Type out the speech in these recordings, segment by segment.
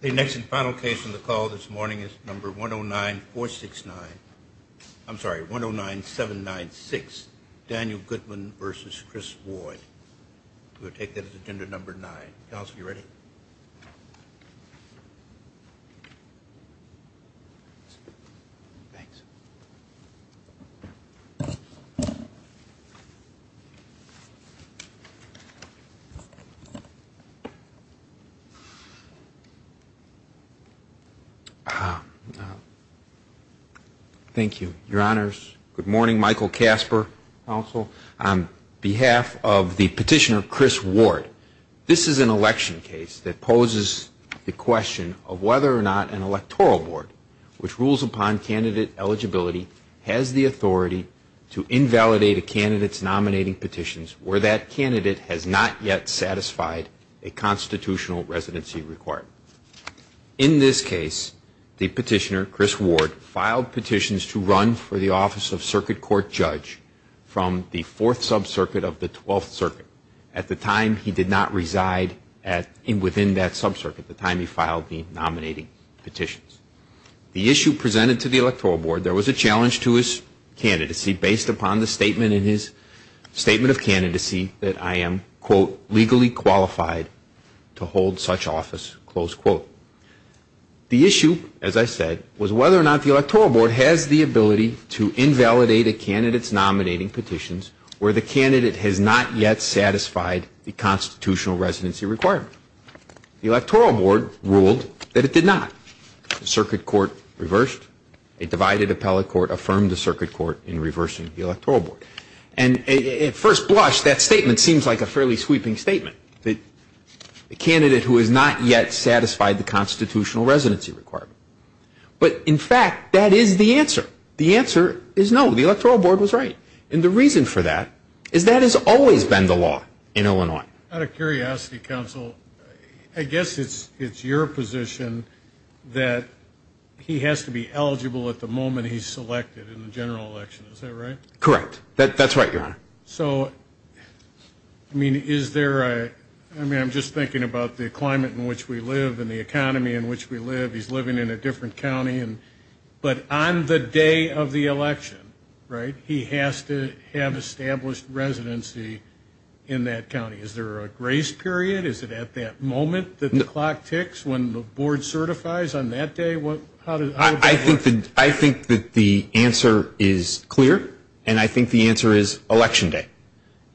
The next and final case in the call this morning is number 109 469 I'm sorry 109 796 Daniel Goodman versus Chris Boyd We'll take that as agenda number nine. You ready? Thank you, your honors. Good morning, Michael Kasper, counsel. On behalf of the petitioner Chris Ward, this is an election case that poses the question of whether or not an electoral board which rules upon candidate eligibility has the authority to invalidate a candidate's nominating petitions where that candidate has not yet satisfied a constitutional residency requirement. In this case, the petitioner, Chris Ward, filed petitions to run for the office of circuit court judge from the 4th sub-circuit of the 12th circuit at the time he did not reside within that sub-circuit, the time he filed the nominating petitions. The issue presented to the electoral board, there was a challenge to his candidacy based upon the statement in his statement of candidacy that I am, quote, legally qualified to hold such office, close quote. The issue, as I said, was whether or not the electoral board has the ability to invalidate a candidate's nominating petitions where the candidate has not yet satisfied the constitutional residency requirement. The electoral board ruled that it did not. The circuit court reversed. A divided appellate court affirmed the circuit court in reversing the electoral board. And at first blush, that statement seems like a fairly sweeping statement. The candidate who has not yet satisfied the constitutional residency requirement. But in fact, that is the answer. The answer is no. The electoral board was right. And the reason for that is that has always been the law in Illinois. Out of curiosity, counsel, I guess it's your position that he has to be eligible at the moment he's selected in the general election. Is that right? Correct. That's right, your honor. So, I mean, is there a, I mean, I'm just thinking about the climate in which we live and the economy in which we live. He's living in a different county. But on the day of the election, right, he has to have established residency in that county. Is there a grace period? Is it at that moment that the clock ticks when the board certifies on that day? I think that the answer is clear. And I think the answer is election day.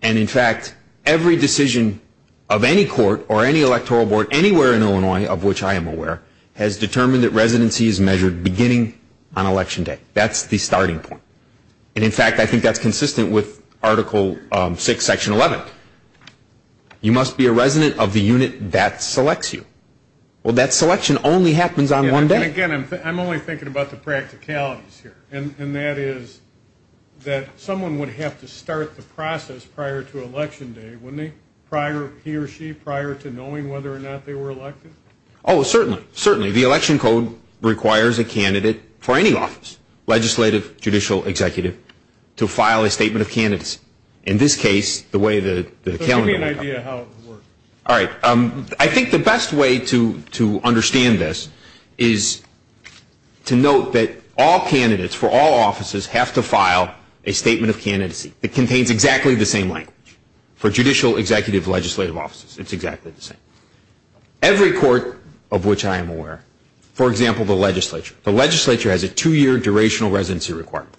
And in fact, every decision of any court or any electoral board anywhere in Illinois, of which I am aware, has determined that residency is measured beginning on election day. That's the starting point. And in fact, I think that's consistent with Article 6, Section 11. You must be a resident of the unit that selects you. Well, that selection only happens on one day. And again, I'm only thinking about the practicalities here. And that is that someone would have to start the process prior to election day, wouldn't they? Prior, he or she, prior to knowing whether or not they were elected? Oh, certainly. Certainly. The election code requires a candidate for any office, legislative, judicial, executive, to file a statement of candidacy. In this case, the way the calendar. So give me an idea of how it works. All right. I think the best way to understand this is to note that all candidates for all offices have to file a statement of candidacy that contains exactly the same language. For judicial, executive, legislative offices, it's exactly the same. Every court of which I am aware, for example, the legislature, the legislature has a two-year durational residency requirement.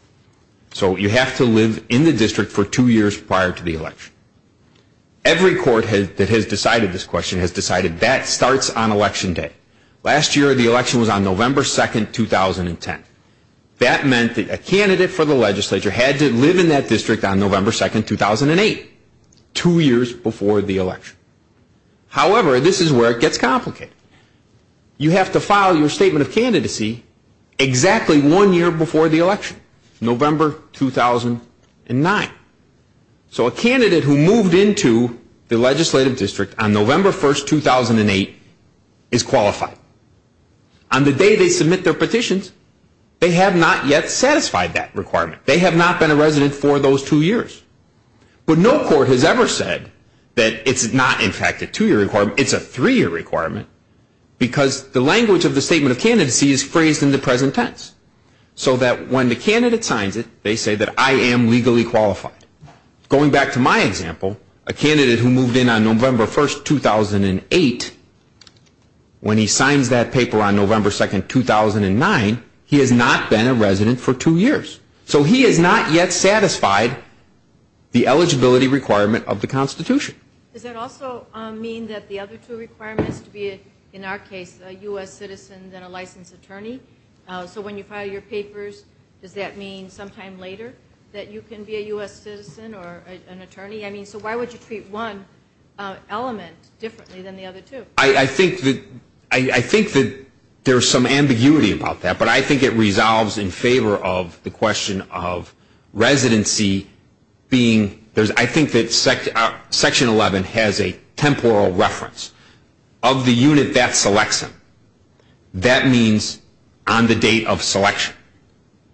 So you have to live in the district for two years prior to the election. Every court that has decided this question has decided that starts on election day. Last year, the election was on November 2, 2010. That meant that a candidate for the legislature had to live in that district on November 2, 2008, two years before the election. However, this is where it gets complicated. You have to file your statement of candidacy exactly one year before the election, November 2009. So a candidate who moved into the legislative district on November 1, 2008 is qualified. On the day they submit their petitions, they have not yet satisfied that requirement. They have not been a resident for those two years. But no court has ever said that it's not, in fact, a two-year requirement. It's a three-year requirement because the language of the statement of candidacy is phrased in the present tense. So that when the candidate signs it, they say that I am legally qualified. Going back to my example, a candidate who moved in on November 1, 2008, when he signs that paper on November 2, 2009, he has not been a resident for two years. So he has not yet satisfied the eligibility requirement of the Constitution. Does that also mean that the other two requirements to be, in our case, a U.S. citizen and a licensed attorney? So when you file your papers, does that mean sometime later that you can be a U.S. citizen or an attorney? I mean, so why would you treat one element differently than the other two? I think that there's some ambiguity about that, but I think it resolves in favor of the question of residency being, I think that Section 11 has a temporal reference. Of the unit that selects him, that means on the date of selection.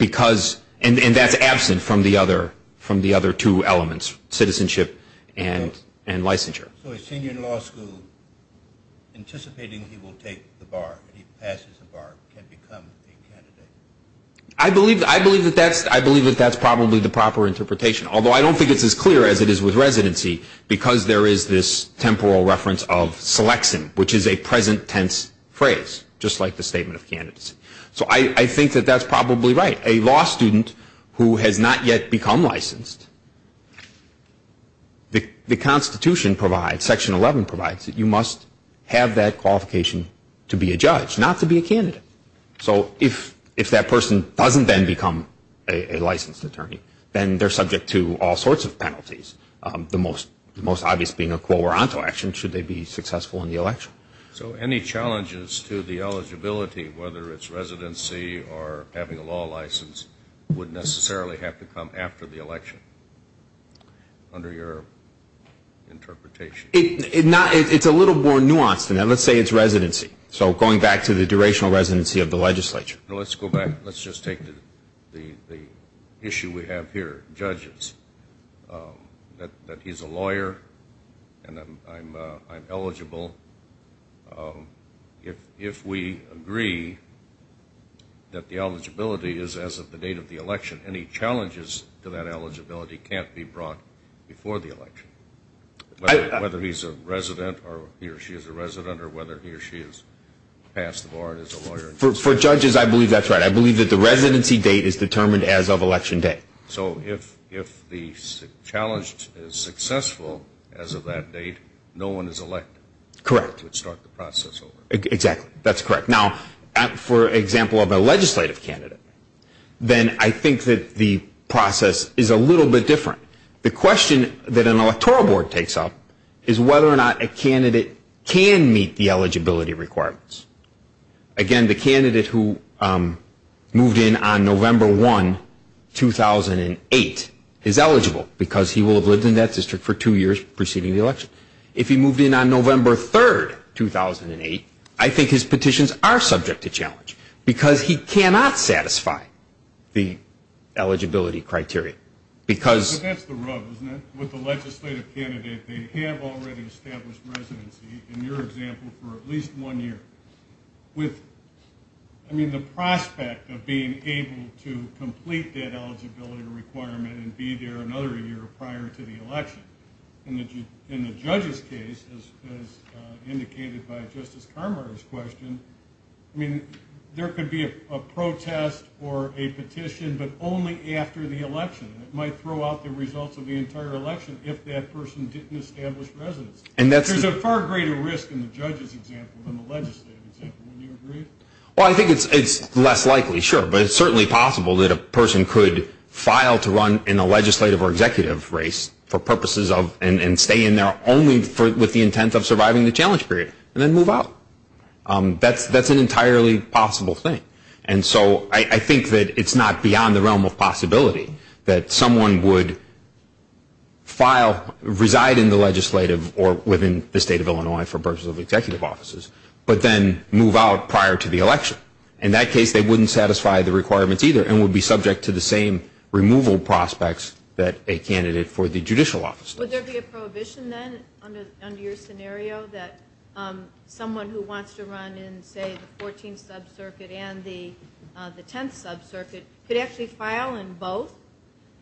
And that's absent from the other two elements, citizenship and licensure. So a senior in law school, anticipating he will take the bar, he passes the bar, can become a candidate? I believe that that's probably the proper interpretation. Although I don't think it's as clear as it is with residency, because there is this temporal reference of selection, which is a present tense phrase, just like the statement of candidacy. So I think that that's probably right. But a law student who has not yet become licensed, the Constitution provides, Section 11 provides, that you must have that qualification to be a judge, not to be a candidate. So if that person doesn't then become a licensed attorney, then they're subject to all sorts of penalties. The most obvious being a quo or onto action, should they be successful in the election. So any challenges to the eligibility, whether it's residency or having a law license, would necessarily have to come after the election, under your interpretation? It's a little more nuanced than that. Let's say it's residency. So going back to the durational residency of the legislature. Let's go back. Let's just take the issue we have here, judges. That he's a lawyer, and I'm eligible. If we agree that the eligibility is as of the date of the election, any challenges to that eligibility can't be brought before the election. Whether he's a resident, or he or she is a resident, or whether he or she has passed the bar and is a lawyer. For judges, I believe that's right. I believe that the residency date is determined as of election day. So if the challenge is successful as of that date, no one is elected. Correct. To start the process over. Exactly. That's correct. Now, for example of a legislative candidate, then I think that the process is a little bit different. The question that an electoral board takes up is whether or not a candidate can meet the eligibility requirements. Again, the candidate who moved in on November 1, 2008, is eligible. Because he will have lived in that district for two years preceding the election. If he moved in on November 3, 2008, I think his petitions are subject to challenge. Because he cannot satisfy the eligibility criteria. But that's the rub, isn't it? With a legislative candidate, they have already established residency, in your example, for at least one year. With the prospect of being able to complete that eligibility requirement and be there another year prior to the election. In the judge's case, as indicated by Justice Carmar's question, there could be a protest or a petition, but only after the election. It might throw out the results of the entire election if that person didn't establish residency. There's a far greater risk in the judge's example than the legislative example, wouldn't you agree? Well, I think it's less likely, sure. But it's certainly possible that a person could file to run in a legislative or executive race, and stay in there only with the intent of surviving the challenge period, and then move out. That's an entirely possible thing. And so I think that it's not beyond the realm of possibility that someone would file, reside in the legislative or within the state of Illinois for purposes of executive offices, but then move out prior to the election. In that case, they wouldn't satisfy the requirements either, and would be subject to the same removal prospects that a candidate for the judicial office does. Would there be a prohibition then, under your scenario, that someone who wants to run in, say, the 14th Sub-Circuit and the 10th Sub-Circuit, could actually file in both,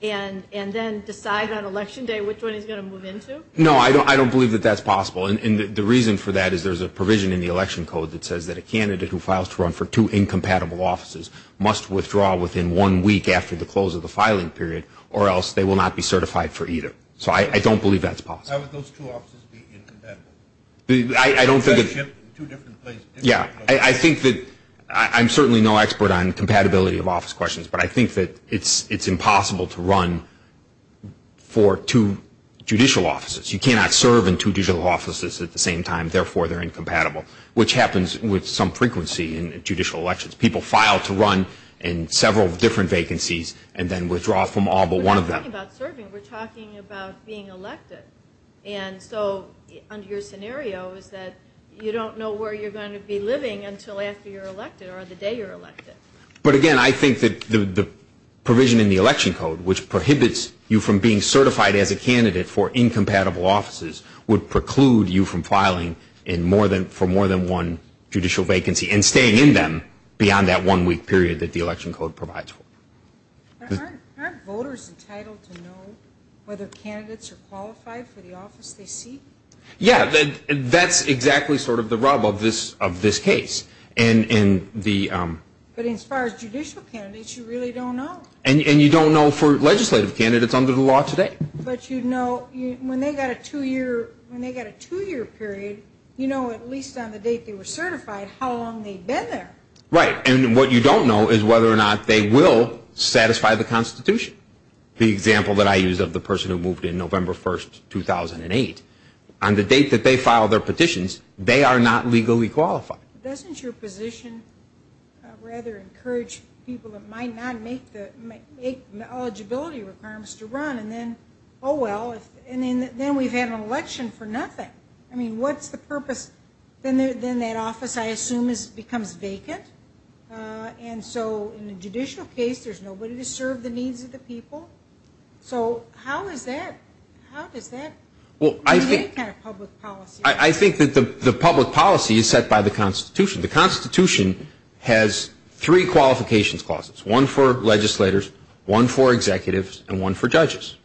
and then decide on election day which one he's going to move into? No, I don't believe that that's possible. And the reason for that is there's a provision in the election code that says that a candidate who files to run for two incompatible offices must withdraw within one week after the close of the filing period, or else they will not be certified for either. So I don't believe that's possible. How would those two offices be incompatible? I don't think that... But I think that it's impossible to run for two judicial offices. You cannot serve in two judicial offices at the same time, therefore they're incompatible, which happens with some frequency in judicial elections. People file to run in several different vacancies, and then withdraw from all but one of them. We're not talking about serving. We're talking about being elected. And so, under your scenario, is that you don't know where you're going to be living until after you're elected, or the day you're elected. But again, I think that the provision in the election code, which prohibits you from being certified as a candidate for incompatible offices, would preclude you from filing for more than one judicial vacancy and staying in them beyond that one-week period that the election code provides for. Aren't voters entitled to know whether candidates are qualified for the office they seek? Yeah, that's exactly sort of the rub of this case. But as far as judicial candidates, you really don't know. And you don't know for legislative candidates under the law today. But you know, when they've got a two-year period, you know at least on the date they were certified how long they've been there. Right, and what you don't know is whether or not they will satisfy the Constitution. The example that I used of the person who moved in November 1, 2008, on the date that they filed their petitions, they are not legally qualified. So how does your position rather encourage people that might not make the eligibility requirements to run? And then, oh well, then we've had an election for nothing. I mean, what's the purpose? Then that office, I assume, becomes vacant. And so in a judicial case, there's nobody to serve the needs of the people. So how is that? How does that relate to public policy? I think that the public policy is set by the Constitution. The Constitution has three qualifications clauses, one for legislators, one for executives, and one for judges.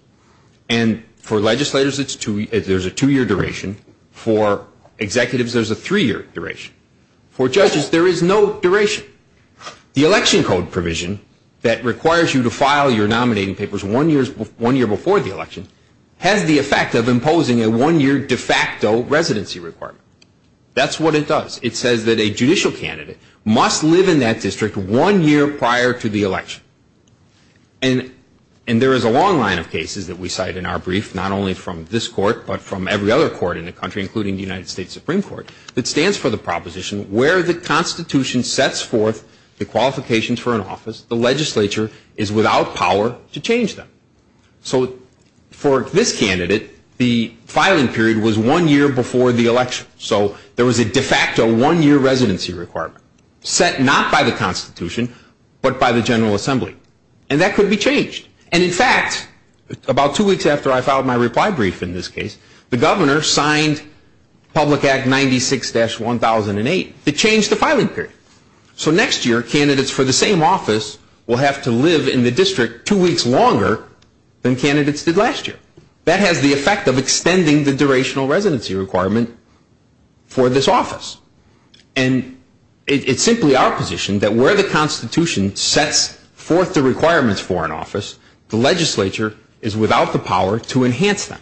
And for legislators, there's a two-year duration. For executives, there's a three-year duration. For judges, there is no duration. The election code provision that requires you to file your nominating papers one year before the election has the effect of imposing a one-year de facto residency requirement. That's what it does. Every candidate must live in that district one year prior to the election. And there is a long line of cases that we cite in our brief, not only from this court, but from every other court in the country, including the United States Supreme Court, that stands for the proposition where the Constitution sets forth the qualifications for an office, the legislature is without power to change them. So for this candidate, the filing period was one year before the election. So there was a de facto one-year residency requirement set not by the Constitution, but by the General Assembly. And that could be changed. And in fact, about two weeks after I filed my reply brief in this case, the governor signed Public Act 96-1008. It changed the filing period. So next year, candidates for the same office will have to live in the district two weeks longer than candidates did last year. That has the effect of extending the durational residency requirement for this office. And it's simply our position that where the Constitution sets forth the requirements for an office, the legislature is without the power to enhance them.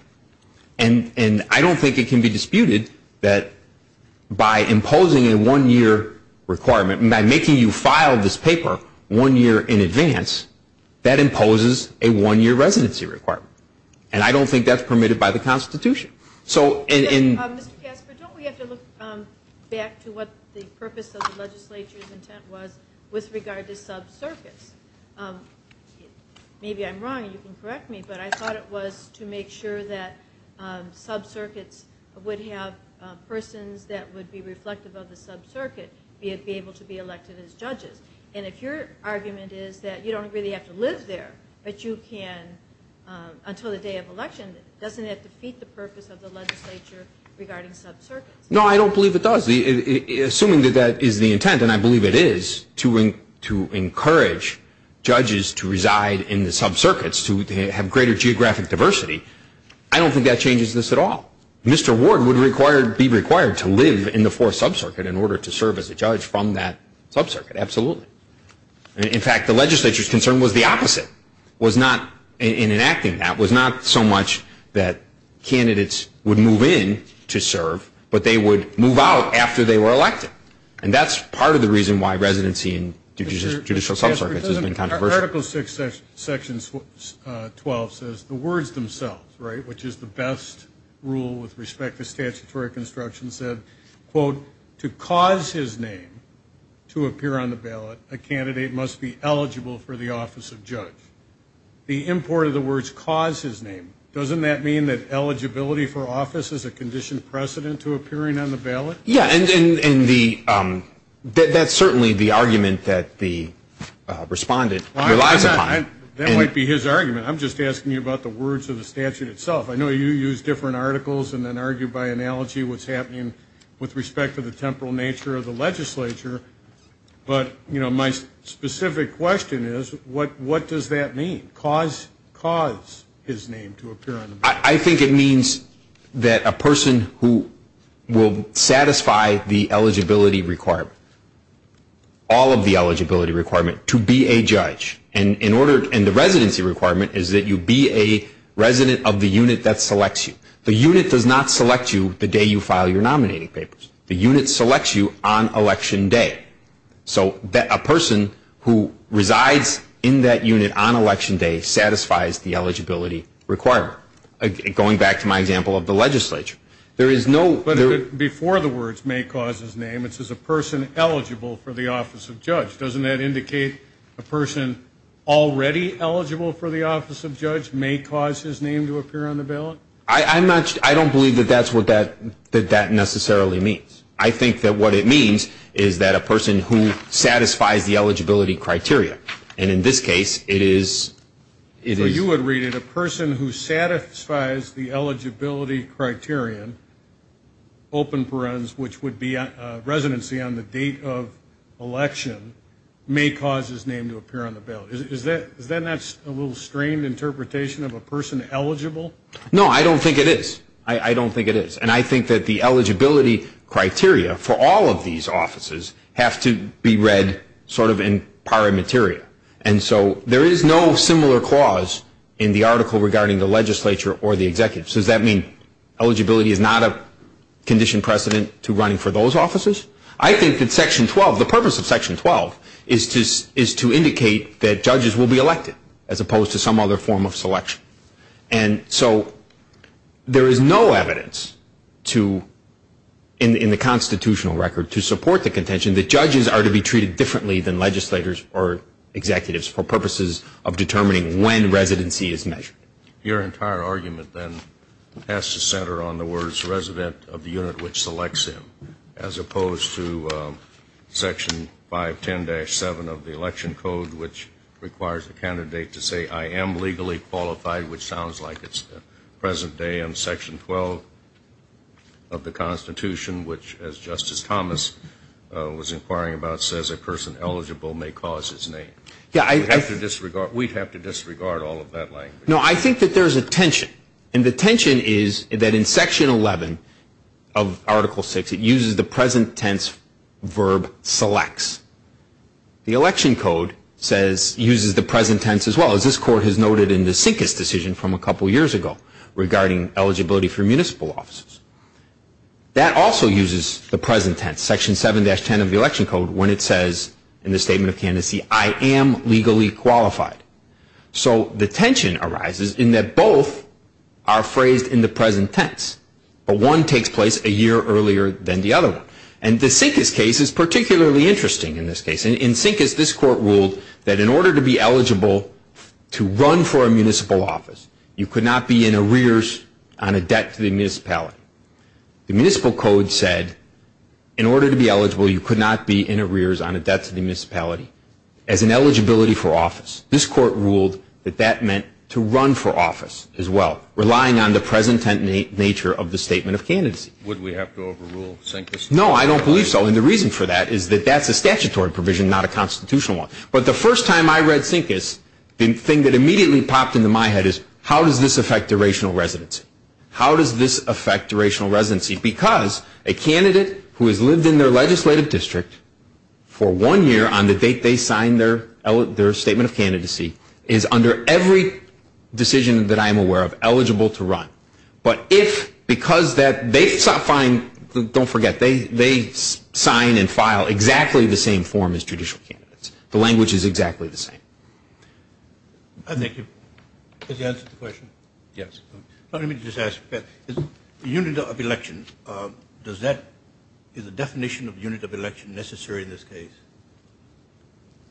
And I don't think it can be disputed that by imposing a one-year requirement, by making you file this paper one year in advance, that imposes a one-year residency requirement. And I don't think that's permitted by the Constitution. So in... Mr. Casper, don't we have to look back to what the purpose of the legislature's intent was with regard to sub-circuits? Maybe I'm wrong. You can correct me. But I thought it was to make sure that sub-circuits would have persons that would be reflective of the sub-circuit be able to be elected as judges. And if your argument is that you don't really have to live there, but you can until the day of election, doesn't that defeat the purpose of the legislature regarding sub-circuits? No, I don't believe it does. Assuming that that is the intent, and I believe it is, to encourage judges to reside in the sub-circuits to have greater geographic diversity, I don't think that changes this at all. Mr. Ward would be required to live in the Fourth Sub-Circuit in order to serve as a judge from that sub-circuit. Absolutely. In fact, the legislature's concern was the opposite. It was not, in enacting that, it was not so much that candidates would move in to serve, but they would move out after they were elected. And that's part of the reason why residency in judicial sub-circuits has been controversial. Article 6, Section 12 says, the words themselves, right, which is the best rule with respect to statutory construction, said, quote, to cause his name to appear on the ballot, a candidate must be eligible for the office of judge. The import of the words cause his name. Doesn't that mean that eligibility for office is a conditioned precedent to appearing on the ballot? Yeah, and that's certainly the argument that the respondent relies upon. That might be his argument. I'm just asking you about the words of the statute itself. I know you use different articles and then argue by analogy what's happening with respect to the temporal nature of the legislature, but my specific question is, what does that mean, cause his name to appear on the ballot? I think it means that a person who will satisfy the eligibility requirement, all of the eligibility requirement, to be a judge, and the residency requirement is that you be a resident of the unit that selects you. The unit does not select you the day you file your nominating papers. The unit selects you on election day. So a person who resides in that unit on election day satisfies the eligibility requirement. Going back to my example of the legislature. Before the words may cause his name, it says a person eligible for the office of judge. Doesn't that indicate a person already eligible for the office of judge may cause his name to appear on the ballot? I don't believe that that's what that necessarily means. I think that what it means is a person who satisfies the eligibility criteria. And in this case, it is... So you would read it, a person who satisfies the eligibility criterion, open parens, which would be residency on the date of election, may cause his name to appear on the ballot. Isn't that a little strained interpretation of a person eligible? No, I don't think it is. I don't think it is. And I think that the eligibility criteria has to be read sort of in pari materia. And so there is no similar clause in the article regarding the legislature or the executive. So does that mean eligibility is not a condition precedent to running for those offices? I think that Section 12, the purpose of Section 12 is to indicate that judges will be elected as opposed to some other form of selection. And so there is no evidence to, in the constitutional record, to support the contention that judges are to be treated differently than legislators or executives for purposes of determining when residency is measured. Your entire argument, then, has to center on the words resident of the unit which selects him, as opposed to Section 510-7 of the Election Code, which requires the candidate to say I am legally qualified, which sounds like it's the present day, and Section 12 of the Constitution, which, as Justice Thomas was inquiring about, says a person eligible may cause his name. We'd have to disregard all of that language. No, I think that there is a tension. And the tension is that in Section 11 of Article 6, it uses the present tense verb selects. The Election Code says, uses the present tense as well, as this Court has noted in the Sincus decision from a couple years ago regarding eligibility for municipal offices. That also uses the present tense, Section 7-10 of the Election Code, when it says in the Statement of Candidacy, I am legally qualified. So the tension arises in that both are phrased in the present tense, but one takes place a year earlier than the other one. And the Sincus case is particularly interesting in this case. In Sincus, this Court ruled that in order to be eligible to run for a municipal office, you could not be in arrears on a debt to the municipality. The Municipal Code said in order to be eligible, you could not be in arrears on a debt to the municipality as an eligibility for office. This Court ruled that that meant to run for office as well, relying on the present tense nature of the Statement of Candidacy. Would we have to overrule Sincus? No, I don't believe so. And the reason for that is that that's a statutory provision, not a constitutional one. It's not a constitutional residency because a candidate who has lived in their legislative district for one year on the date they signed their Statement of Candidacy is under every decision that I am aware of eligible to run. But if, because that, they find, don't forget, they sign and file exactly the same form as judicial candidates. The language is exactly the same. Thank you. Has he answered the question? Yes. The unit of election, does that, is the definition of unit of election necessary in this case?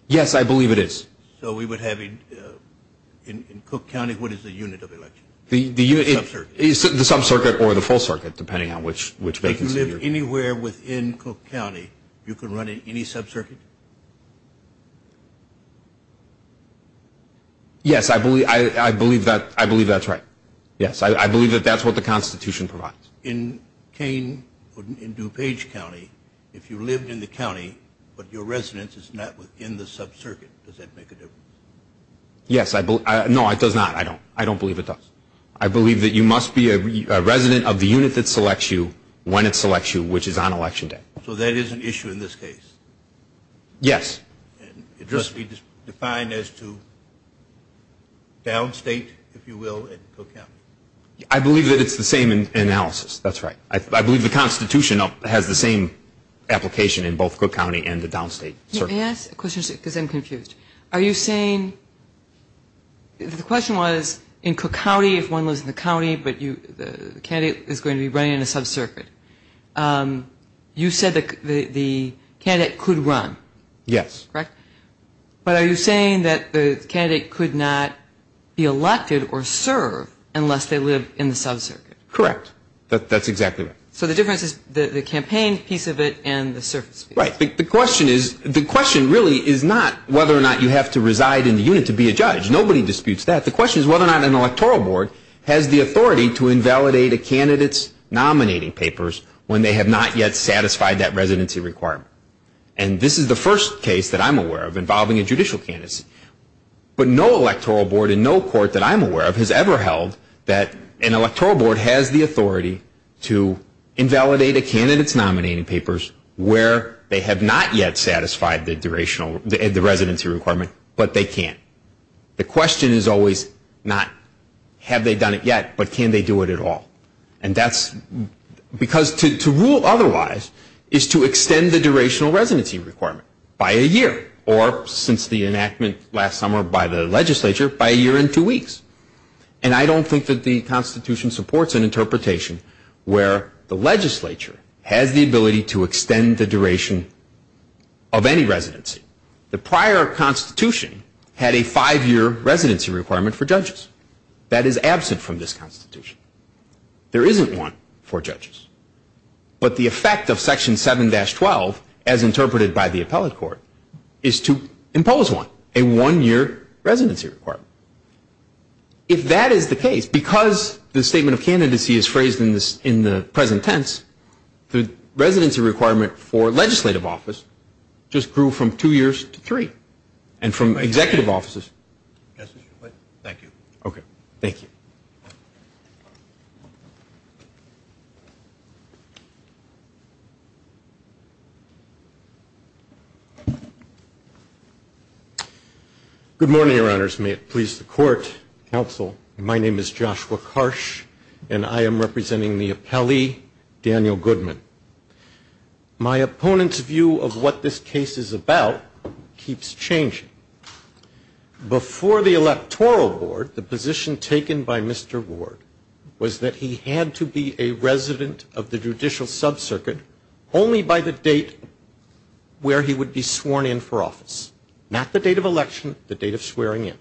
Yes, I believe it is. So we would have, in Cook County, what is the unit of election? The sub-circuit. The sub-circuit or the full circuit, depending on which vacancy you're in. If you live anywhere within Cook County, you can run in any sub-circuit? Yes, I believe that, I believe that's right. Yes, I believe that that's what the Constitution provides. In Kane, in DuPage County, if you live in the county, but your residence is not within the sub-circuit, does that make a difference? Yes, I believe, no, it does not, I don't. I don't believe it does. I believe that you must be a resident of the unit that selects you when it selects you, which is on election day. So that is an issue in this case? Yes. It must be defined as to downstate, if you will, in Cook County? I believe that it's the same in analysis, that's right. I believe the Constitution has the same application in both Cook County and the downstate circuit. May I ask a question, because I'm confused. Are you saying, the question was, you said the candidate could run? Yes. But are you saying that the candidate could not be elected or serve unless they live in the sub-circuit? Correct, that's exactly right. So the difference is the campaign piece of it and the service piece? Right, the question really is not whether or not you have to reside in the unit to be a judge, nobody disputes that. The question is whether or not an electoral board has the authority to invalidate a candidate's nominating papers where they have not yet satisfied that residency requirement. And this is the first case that I'm aware of involving a judicial candidacy. But no electoral board in no court that I'm aware of has ever held that an electoral board has the authority to invalidate a candidate's nominating papers where they have not yet satisfied the residency requirement, but they can. The question is always not have they done it yet, but can they do it at all? And that's because to rule otherwise is to extend the durational residency requirement by a year, or since the enactment last summer by the legislature, by a year and two weeks. And I don't think that the Constitution supports an interpretation where the legislature has the ability to extend the duration of any residency. The prior Constitution had a five-year residency requirement for judges. That is absent from this Constitution. There isn't one for judges. But the effect of Section 7-12, as interpreted by the appellate court, is to impose one, a one-year residency requirement. If that is the case, because the statement of candidacy is phrased in the present tense, the residency requirement for legislative office just grew from two years to three, and from executive offices to executive offices. Thank you. Okay. Thank you. Good morning, Your Honors. May it please the court, counsel. My name is Joshua Karsh, and I am representing the appellee, Daniel Goodman. My opponent's view of what this case is about is that before the electoral board, the position taken by Mr. Ward was that he had to be a resident of the judicial sub-circuit only by the date where he would be sworn in for office. Not the date of election, the date of swearing in.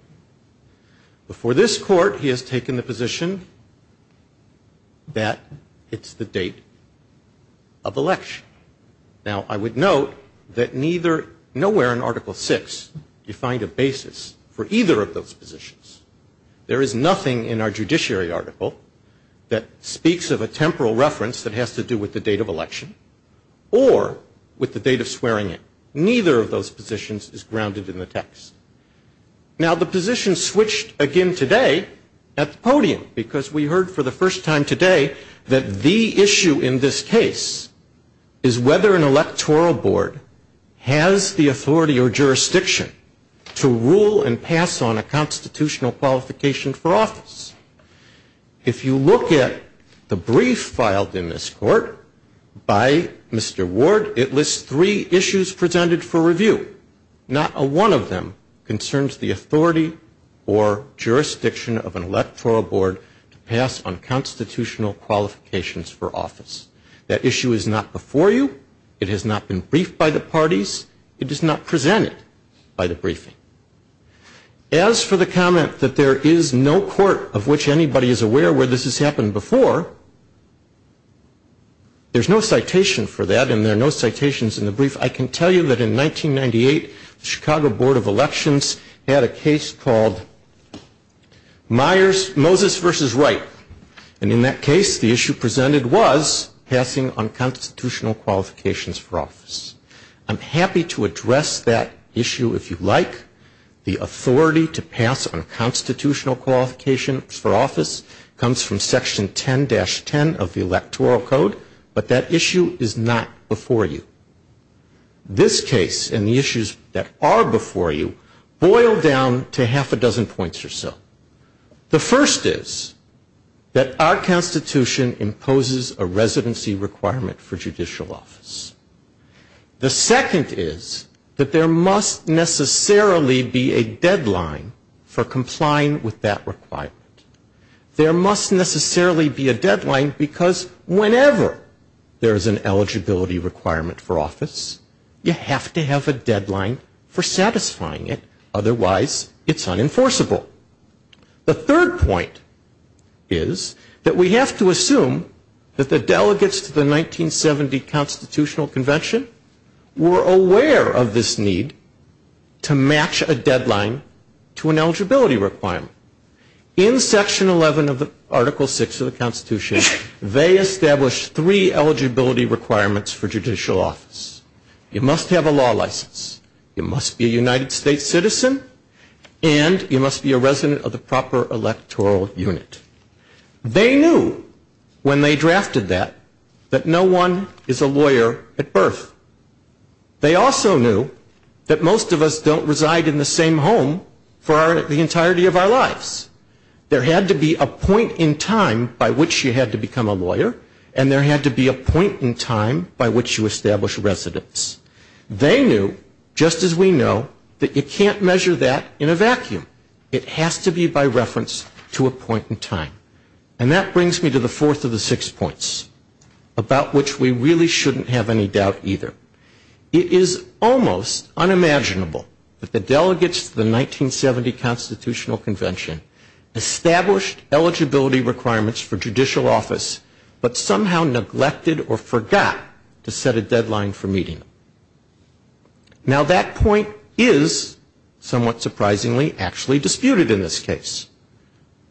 Before this court, he has taken the position that it's the date of election. Now, I would note that nowhere in Article VI is defined a basis for either of those positions. There is nothing in our judiciary article that speaks of a temporal reference that has to do with the date of election or with the date of swearing in. Neither of those positions is grounded in the text. Now, the position switched again today at the podium because we heard for the first time today that the issue in this case is whether an electoral board has the authority or jurisdiction to rule and pass on a constitutional qualification for office. If you look at the brief filed in this court by Mr. Ward, it lists three issues presented for review. Not a one of them concerns the authority or jurisdiction of an electoral board to pass on constitutional qualifications for office. It has not been briefed by the parties. It is not presented by the briefing. As for the comment that there is no court of which anybody is aware where this has happened before, there's no citation for that and there are no citations in the brief. I can tell you that in 1998, the Chicago Board of Elections had a case called Moses v. Wright. And in that case, the issue presented was passing on constitutional qualifications for office. I'm happy to address that issue if you like. The authority to pass on constitutional qualifications for office comes from Section 10-10 of the Electoral Code, but that issue is not before you. This case and the issues that are before you boil down to half a dozen points or so. The first is that our Constitution imposes a residency requirement for judicial office. The second is that there must necessarily be a deadline for complying with that requirement. There must necessarily be a deadline because whenever there is an eligibility requirement for office, you have to have a deadline for satisfying it. Otherwise, it's unenforceable. The third point is that we have to assume that the delegates to the 1970 Constitutional Convention were aware of this need to match a deadline to an eligibility requirement. In Section 11 of the Article 6 of the Constitution, they established three eligibility requirements for judicial office. You must have a law license, you must be a United States citizen, and you must be a resident of the proper electoral unit. They knew when they drafted that that no one is a lawyer at birth. They also knew that most of us don't reside in the same home for the entirety of our lives. There had to be a point in time by which you had to become a lawyer, and there had to be a point in time by which you establish residence. They knew, just as we know, that you can't measure that in a vacuum. It has to be by reference to a point in time. And that brings me to the fourth of the six points about which we really shouldn't have any doubt either. It is almost unimaginable that the delegates to the 1970 Constitutional Convention established eligibility requirements for judicial office, but somehow neglected or forgot to set a deadline for meeting. Now, that point is, somewhat surprisingly, actually disputed in this case.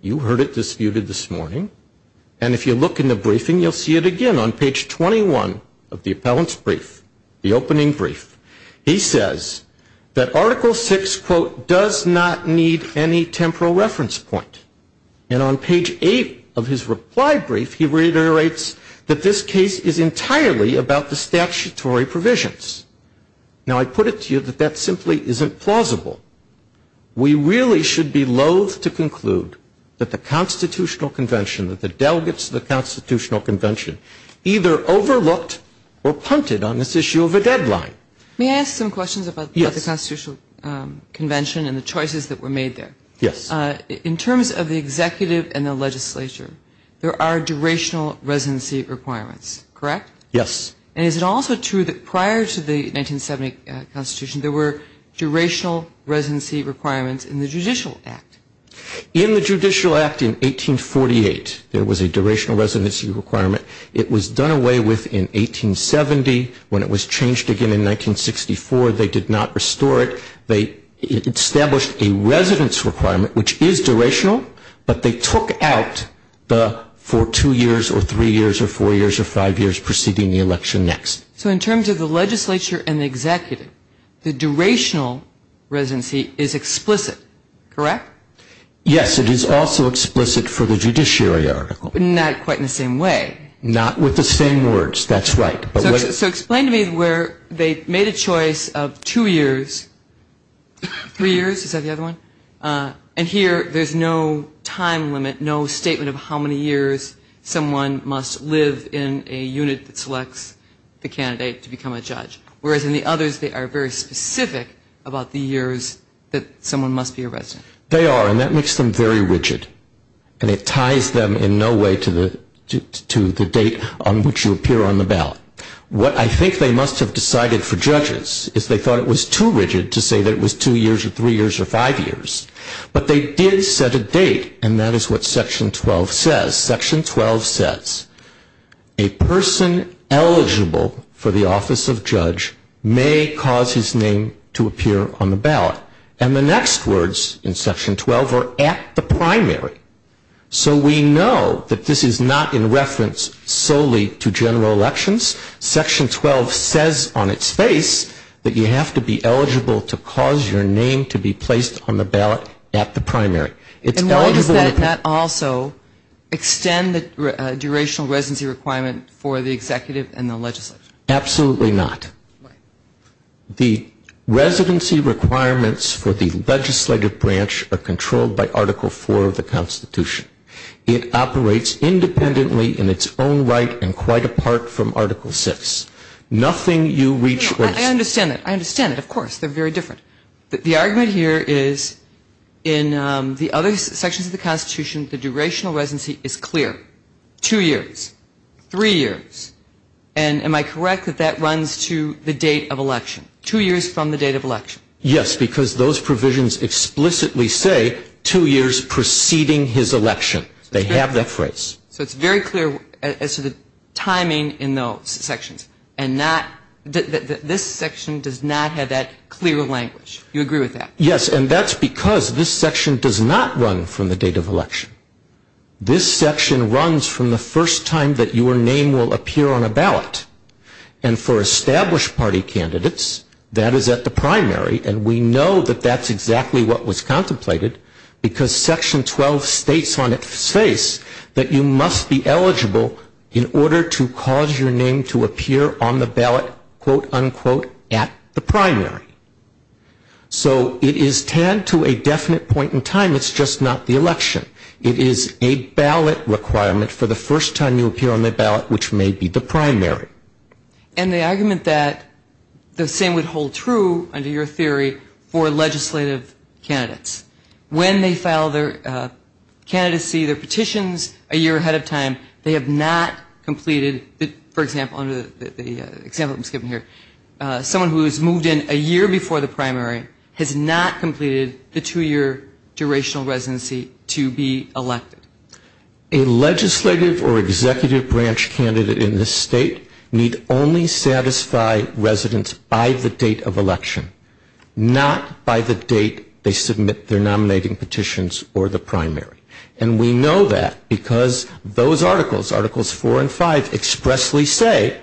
You heard it disputed this morning, and if you look in the briefing, you'll see it again on page 21 of the Appellant's Brief, the opening brief. He says that Article VI, quote, does not need any temporal reference point. And on page eight of his reply brief, he reiterates that this case is entirely about the statutory provisions. Now, I put it to you that that simply isn't plausible. We really should be loathe to conclude that the Constitutional Convention, that the delegates to the Constitutional Convention, either overlooked or punted on this issue of a deadline. May I ask some questions about the Constitutional Convention and the choices that were made there? Yes. In terms of the executive and the legislature, there are durational residency requirements, correct? Yes. And is it also true that prior to the 1970 Constitution, there were durational residency requirements in the Judicial Act? In the Judicial Act in 1848, there was a durational residency requirement. It was done away with in 1870. When it was changed again in 1964, they did not restore it. They established a residence requirement, which is durational, but they took out the for two years or three years or four years or five years preceding the election next. So in terms of the legislature and the executive, the durational residency is explicit, correct? Yes. It is also explicit for the judiciary article. But not quite in the same way. Not with the same words, that's right. So explain to me where they made a choice of two years, three years, is that the other one? And here, there's no time limit, no statement of how many years someone must live in a unit that selects the candidate to become a judge. Whereas in the others, they are very specific about the years that someone must be a resident. They are, and that makes them very rigid. And it ties them in no way to the to the date on which you appear on the ballot. What I think they must have decided for judges is they thought it was too rigid to say that it was two years or three years or five years. But they did set a date and that is what section 12 says. Section 12 says, a person eligible for the office of judge may cause his name to appear on the ballot. And the next words in section 12 are at the primary. So we know that this is not in reference solely to general elections. Section 12 says on its face that you have to be eligible to cause your name to be placed on the ballot at the primary. And why does that not also extend the durational residency requirement for the executive and the legislature? Absolutely not. The residency requirements for the legislative branch are controlled by Article 4 of the Constitution. It operates independently in its own right and quite apart from Article 6. Nothing you reach I understand that. I understand that, of course. They're very different. The argument here is in the other sections of the Constitution the durational residency is clear. Two years. Three years. And am I correct that that runs to the date of election? Two years from the date of election? Yes, because those provisions explicitly say two years preceding his election. They have that phrase. So it's very clear as to the timing in those sections and not this section does not have that clear language. You agree with that? Yes, and that's because this section does not run from the date of election. This section runs from the first time that your name will appear on a ballot. And for established party candidates that is at the primary and we know that that's exactly what was contemplated because section 12 states on its face that you must be eligible in order to cause your name to appear on the ballot quote unquote at the primary. So it is tanned to a definite point in time it's just not the election. It is a ballot requirement for the first time you appear on the ballot which may be the primary. And the argument that the same would hold true under your theory for legislative candidates. When they file their candidacy their petitions a year ahead of time they have not completed for example under the example that was given here someone who has moved in a year before the primary has not completed the two year durational residency to be elected. A legislative or executive branch candidate in this state need only satisfy residents by the date of election not by the date they submit their nominating petitions or the primary. And we know that because those articles articles 4 and 5 expressly say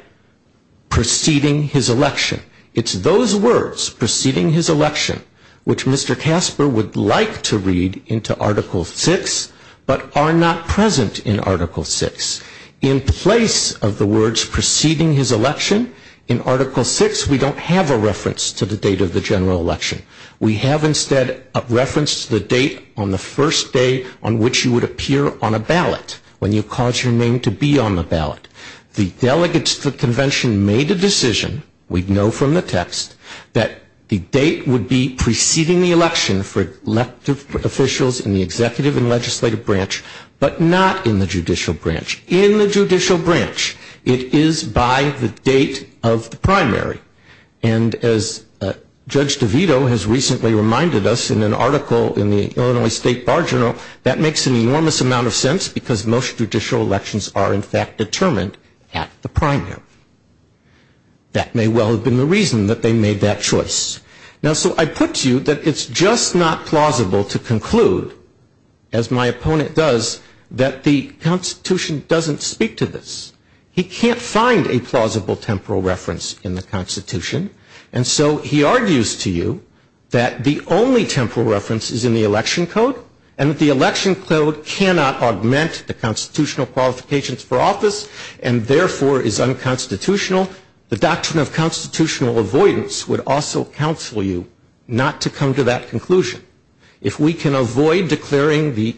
preceding his election. It's those words preceding his election which Mr. Casper would like to read into article 6 but are not present in article 6. In place of the words preceding his election in article 6 we don't have a reference to the date of the general election. We have instead a reference to the date on the first day on which you would appear on a ballot when you cause your name to be on the ballot. The delegates to the convention made a decision we know from the text that the date would be preceding the general election is by the date of the primary. And as Judge DeVito has recently reminded us in an article in the Illinois State Bar Journal that makes an enormous amount of sense because most judicial elections are in fact determined at the primary. That may well have been the reason that they made that choice. Now so I put to you that it's just not plausible to conclude as my opponent does that the Constitution doesn't speak to this. He can't find a plausible temporal reference in the Constitution and so he argues to you that the only temporal reference is in the election code and that the election code cannot augment the constitutional qualifications for office and therefore is unconstitutional. The doctrine of constitutional avoidance would also counsel you not to come to that conclusion. If we can avoid declaring the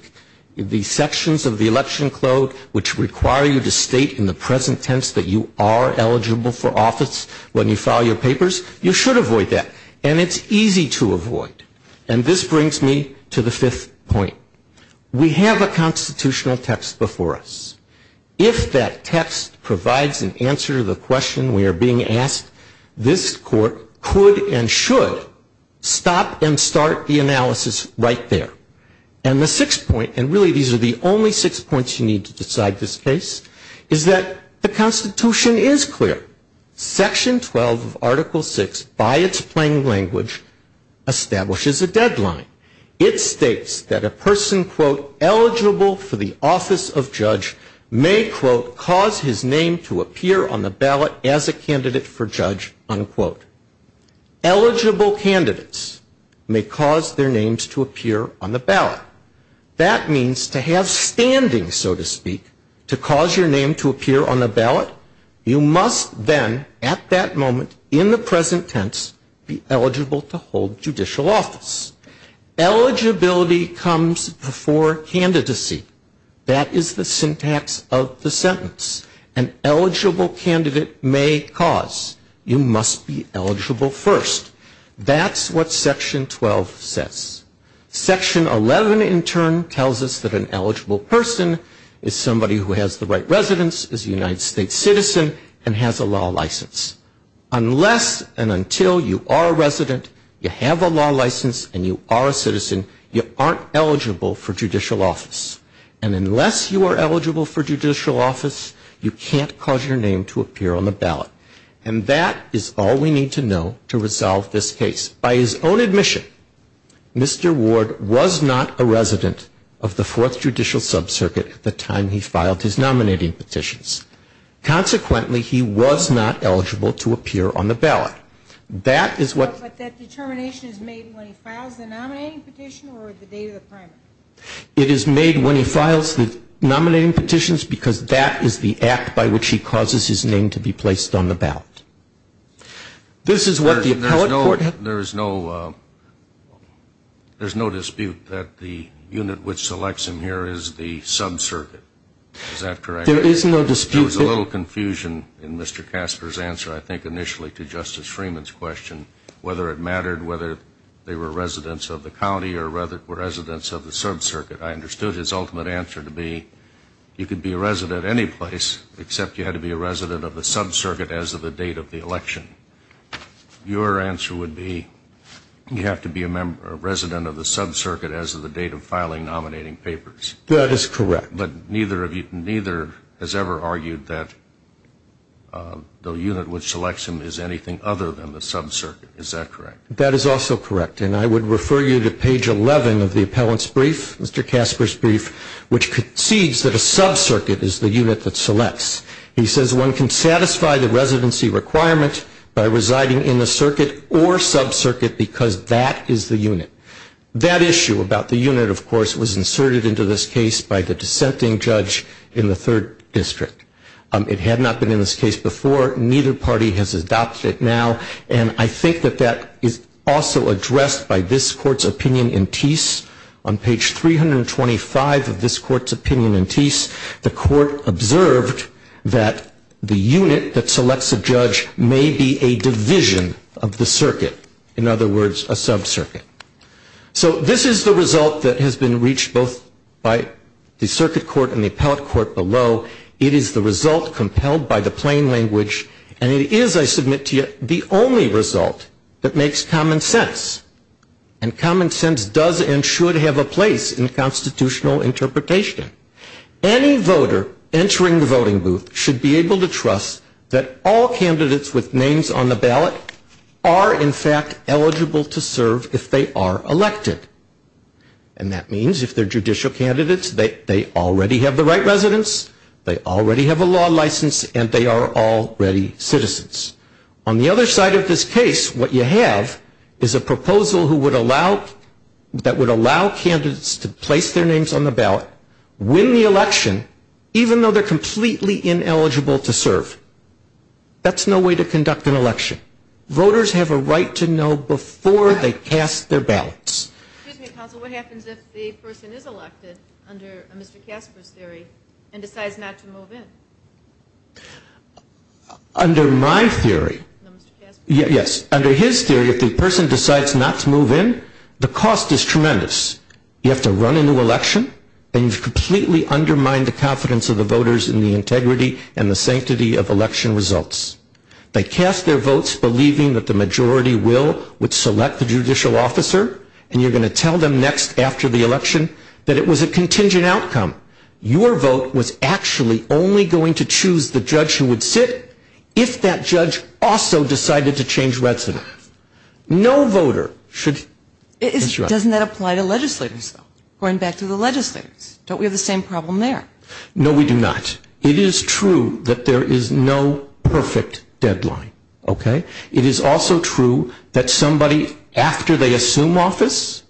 sections of the election code which require you to state in the present tense that you are eligible for office when you file your papers, you should avoid that. And it's easy to avoid. And this brings me to the question we are being asked, this court could and should stop and start the analysis right there. And the sixth point, and really these are the only six points you need to decide this case, is that the Constitution is clear. Section 12 of Article 6 by its plain language establishes a deadline. It states that a judge has a candidate for judge, unquote. Eligible candidates may cause their names to appear on the ballot. That means to have standing, so to speak, to cause your name to appear on the ballot, you must then at that moment in the present tense be eligible to hold judicial office. Eligibility comes before candidacy. That is the syntax of the sentence. An eligible candidate may cause. You must be eligible first. That's what Section 12 says. Section 11 in turn tells us that an eligible person is somebody who has the right residence, is a United States citizen, and has a law license. Unless and until you are a resident, you have a law license, and you are a citizen, you aren't eligible for judicial office. And unless you are eligible for judicial office, you can't cause your name to appear on the ballot. And that is all we need to know to resolve this case. By his own admission, Mr. Ward was not a resident of the Fourth Circuit, resident of the Fourth Circuit. And that determination is made when he files the nominating petition or the date of the primary? It is made when he files the nominating petitions because that is the act by which he causes his name to be filed. Whether it mattered whether they were residents of the county or residents of the Sub-Circuit, I understood his ultimate answer to be you could be a resident any place except you had to be a resident of the Sub-Circuit as of the date of the election. Your answer would be you have to be a resident of the Sub-Circuit as of the date of filing nominating papers. That is correct. But neither has ever argued that the unit which selects him is anything other than the Sub-Circuit. Is that correct? That is also correct. And I would refer you to page 11 of the appellant's brief, Mr. Casper's And the question about the unit, of course, was inserted into this case by the dissenting judge in the third district. It had not been in this case before. Neither party has adopted it now. And I think that that is also addressed by this court's opinion. The court observed that the unit that selects a judge may be a division of the circuit, in other words, a Sub-Circuit. So this is the result that has been reached both by the Circuit Court and the Appellate Court below. It is the result compelled by the plain language and it is, I submit to you, the only result that makes common sense. And common sense does and should have a place in constitutional interpretation. Any voter entering the voting booth should be able to trust that all candidates with names on the ballot are, in fact, eligible to serve if they are elected. And that means if they are judicial candidates, they already have the right residence, they already have a law license and they are already citizens. On the other side of this case, what you have is a proposal that would allow candidates to place their names on the ballot, win the election, be elected. Excuse me, counsel, what happens if the person is elected under Mr. Casper's theory and decides not to move in? Under my theory, yes, under his theory, if the person decides not to move in, the cost is tremendous. You have to run into problem. You have to tell them next after the election that it was a contingent outcome. Your vote was actually only going to choose the judge who would sit if that judge also decided to change residence. No voter should interrupt. Doesn't that apply to legislators though? No, we do not. It is true that there is no perfect deadline, okay? It is also true that somebody after they assume office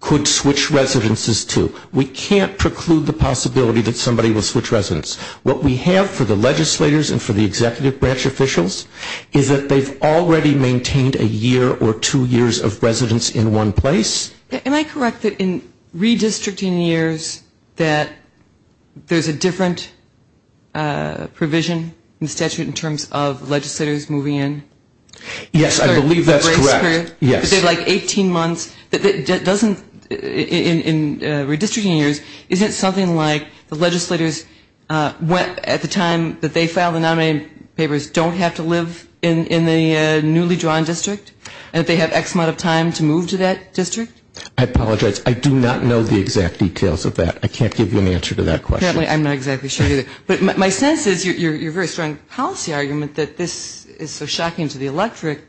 could switch residences to. We can't preclude the possibility that somebody will switch residence. What we have for the legislators and for the executive branch officials is that they've already maintained a year or two years of residence in one place. Am I correct that in redistricting years that there's a different provision in statute in terms of legislators moving in? Yes, I believe that's correct. They have like 18 months. In redistricting years, isn't it something like the legislators went at the time that they filed the motion to move to that district? I apologize. I do not know the exact details of that. I can't give you an answer to that question. I'm not exactly sure either. But my sense is your very strong policy argument that this is so shocking to the electorate,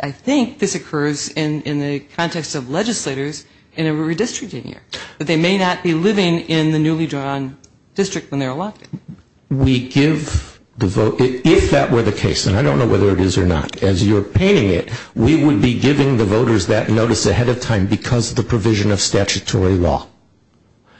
I think this occurs in the context of legislators in a redistricting year. They may not be living in the newly drawn district when they're elected. If that were the case, and I don't know whether it is or not, as you're painting it, we would be giving the voters that notice ahead of time because of the provision of statutory law.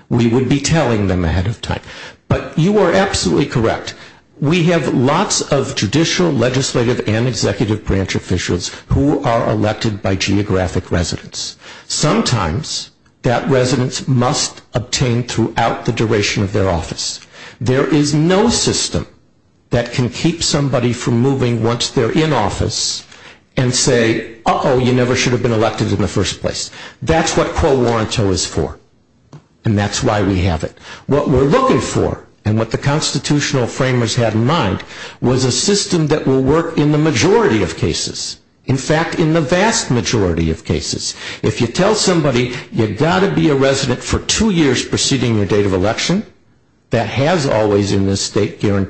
We would be telling them ahead of time. But you are absolutely correct. We have lots of judicial, legislative, and executive branch officials who are elected by geographic residents. Sometimes that residence must obtain throughout the duration of their office. There is no system that can keep somebody from moving once they're in office and say, uh-oh, you know, we're looking for and what the constitutional framers had in mind was a system that will work in the majority of cases. In fact, in the vast majority of cases. If you tell somebody you've got to be a resident for two years preceding your date of election, that has always in the legislature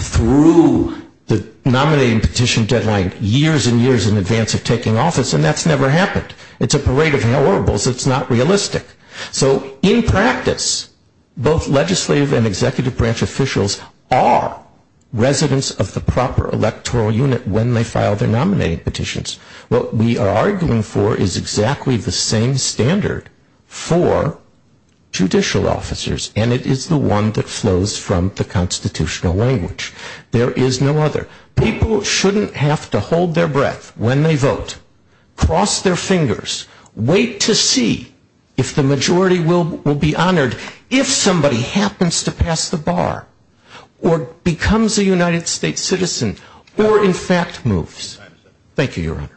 through the nominating petition deadline years and years in advance of taking office and that's never happened. It's a parade of horribles. It's not realistic. So, in practice, both legislative and executive branch officials are residents of the proper constitutional language. There is no other. People shouldn't have to hold their breath when they vote, cross their fingers, wait to see if the majority will be honored if somebody happens to pass the bar or becomes a United States citizen or in fact moves. Thank you, Your Honor.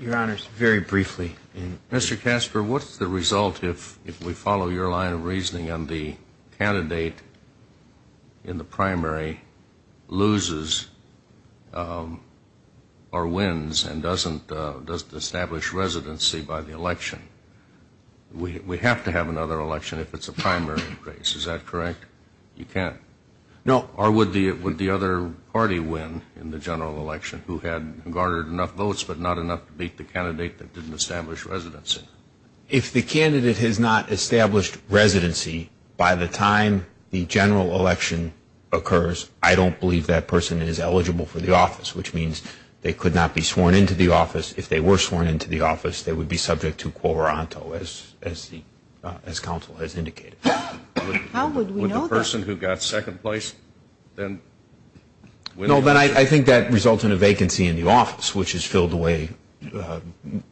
Your Honor, briefly. Mr. Casper, what's the result if we follow your line of reasoning and the candidate in the primary loses or wins and doesn't establish residency by the election? We have to have another election if it's a primary case. Is that correct? You can't establish residency election. No. Or would the other party win in the general election who had garnered enough votes but not enough to beat the candidate that didn't establish residency? If the candidate has not established residency by the time the general election occurs, I don't believe that person is eligible for the office, which means they could not be sworn into the office. If they were sworn into the office, they would be subject to Quo Ronto, as counsel has indicated. Would the person who got second place win? I think that results in a vacancy in the office, which is filled the way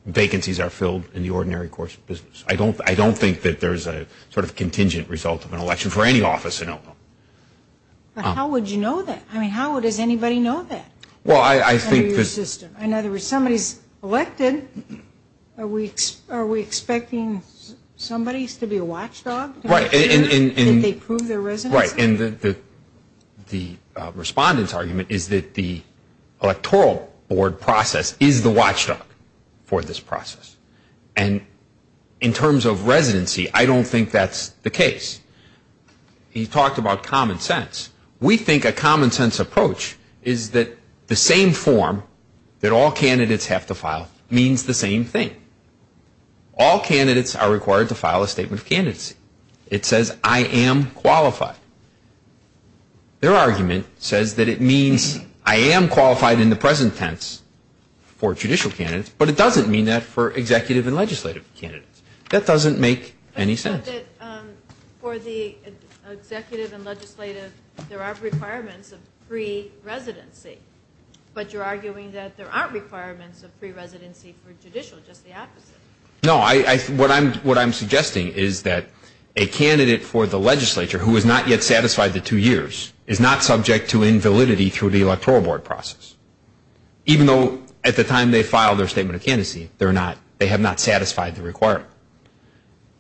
vacancies are filled in the ordinary course of business. I don't think there's a contingent result of an election for any office in Oklahoma. How would you know that? How does anybody know that? Somebody is elected. Are we expecting somebody to be a watchdog? Did they prove their residency? The respondent's argument is that the electoral board process is the watchdog for this process. In terms of the case, he talked about common sense. We think a common sense approach is that the same form that all candidates have to file means the same thing. All candidates are required to file a statement of candidacy. It says, I am qualified. Their argument says that it means I am qualified in the same way. For the executive and legislative, there are requirements of pre-residency, but you are arguing that there are not requirements of pre-residency for judicial, just the opposite. No. What I am suggesting is that a candidate for the legislature who is not yet satisfied the two years is not subject to invalidity through the electoral board process. Even though at the time they filed their statement of candidacy, they have not satisfied the requirement.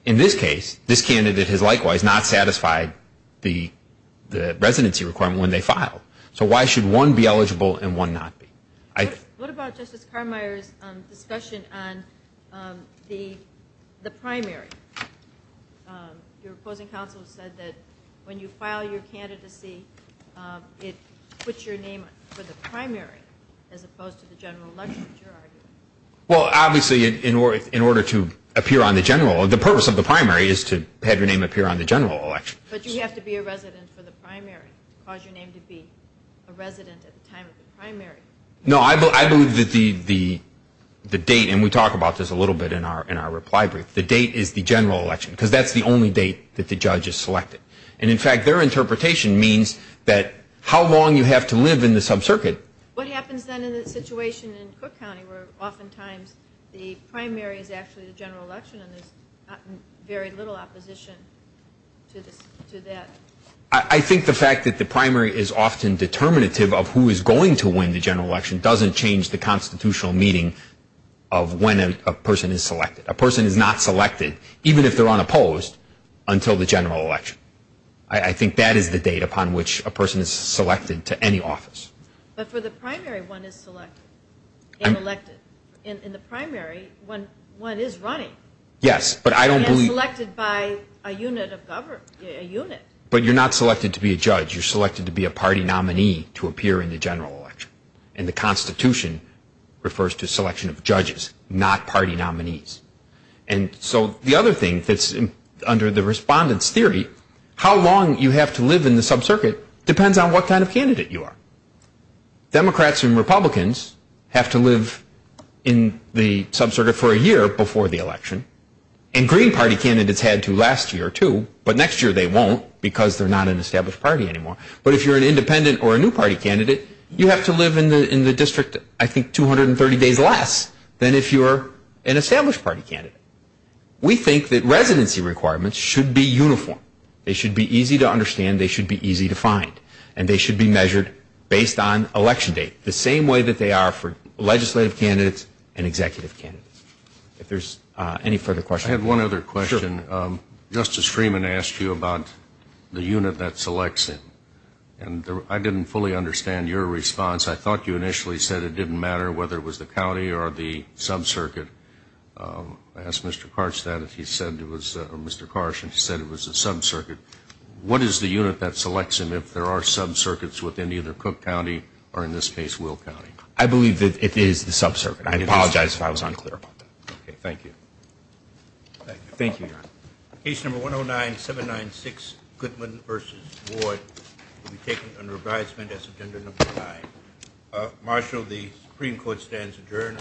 In this case, this candidate has likewise not satisfied the residency requirement when they filed. So why should one be eligible and one not be? What about Justice Carmeier's discussion on the primary? Your opposing counsel said that when you file your candidacy, it puts your name for the primary as opposed to the general election. Well, obviously, in order to appear on the general, the purpose of the primary is to have your name appear on the general election. But you have to be a resident for the primary to cause your name to be a resident at the general primary is the general election. And that's the only date that the judge has selected. And in fact, their interpretation means that how long you have to live in the sub- circuit ---- what I think the fact that the primary is often determinative of who is going to win the general election doesn't change the constitutional meaning of when a person is selected. A person is not selected, even if they're unopposed, until the general election. I think that is the you're not selected to be a judge. You're selected to be a party nominee to appear in the general And the Constitution refers to selection of judges, not party nominees. And so the other thing that's under the respondent's theory, how long you have to live in the sub-circuit depends on what kind of candidate you are. Democrats and Republicans have to live in the sub-circuit for a year before the election, and Green Party candidates had to last a year or two, but next year they won't because they're not an established party anymore. But if you're an independent or a new party candidate, you have to live in the district, I think, 230 days less than if you're an established party candidate. We think that residency requirements should be uniform. They should be easy to understand, they should be easy to find, and they should be measured based on election date, the same way that they are for legislative candidates and candidates. I'm not sure that I fully understand your response. I thought you said it didn't matter whether it was the county or the sub-circuit. I asked Mr. Karch that and he said it was the sub- circuit. What is the unit that selects him if there are sub-circuits within either Cook County or Will I believe it is the sub-circuit. I apologize if I was unclear. Thank you. Thank you, Your Honor. Case number 109-796, Goodman v. Ward, will be taken under advisement as agenda number nine. Marshal, the Supreme Court stands adjourned.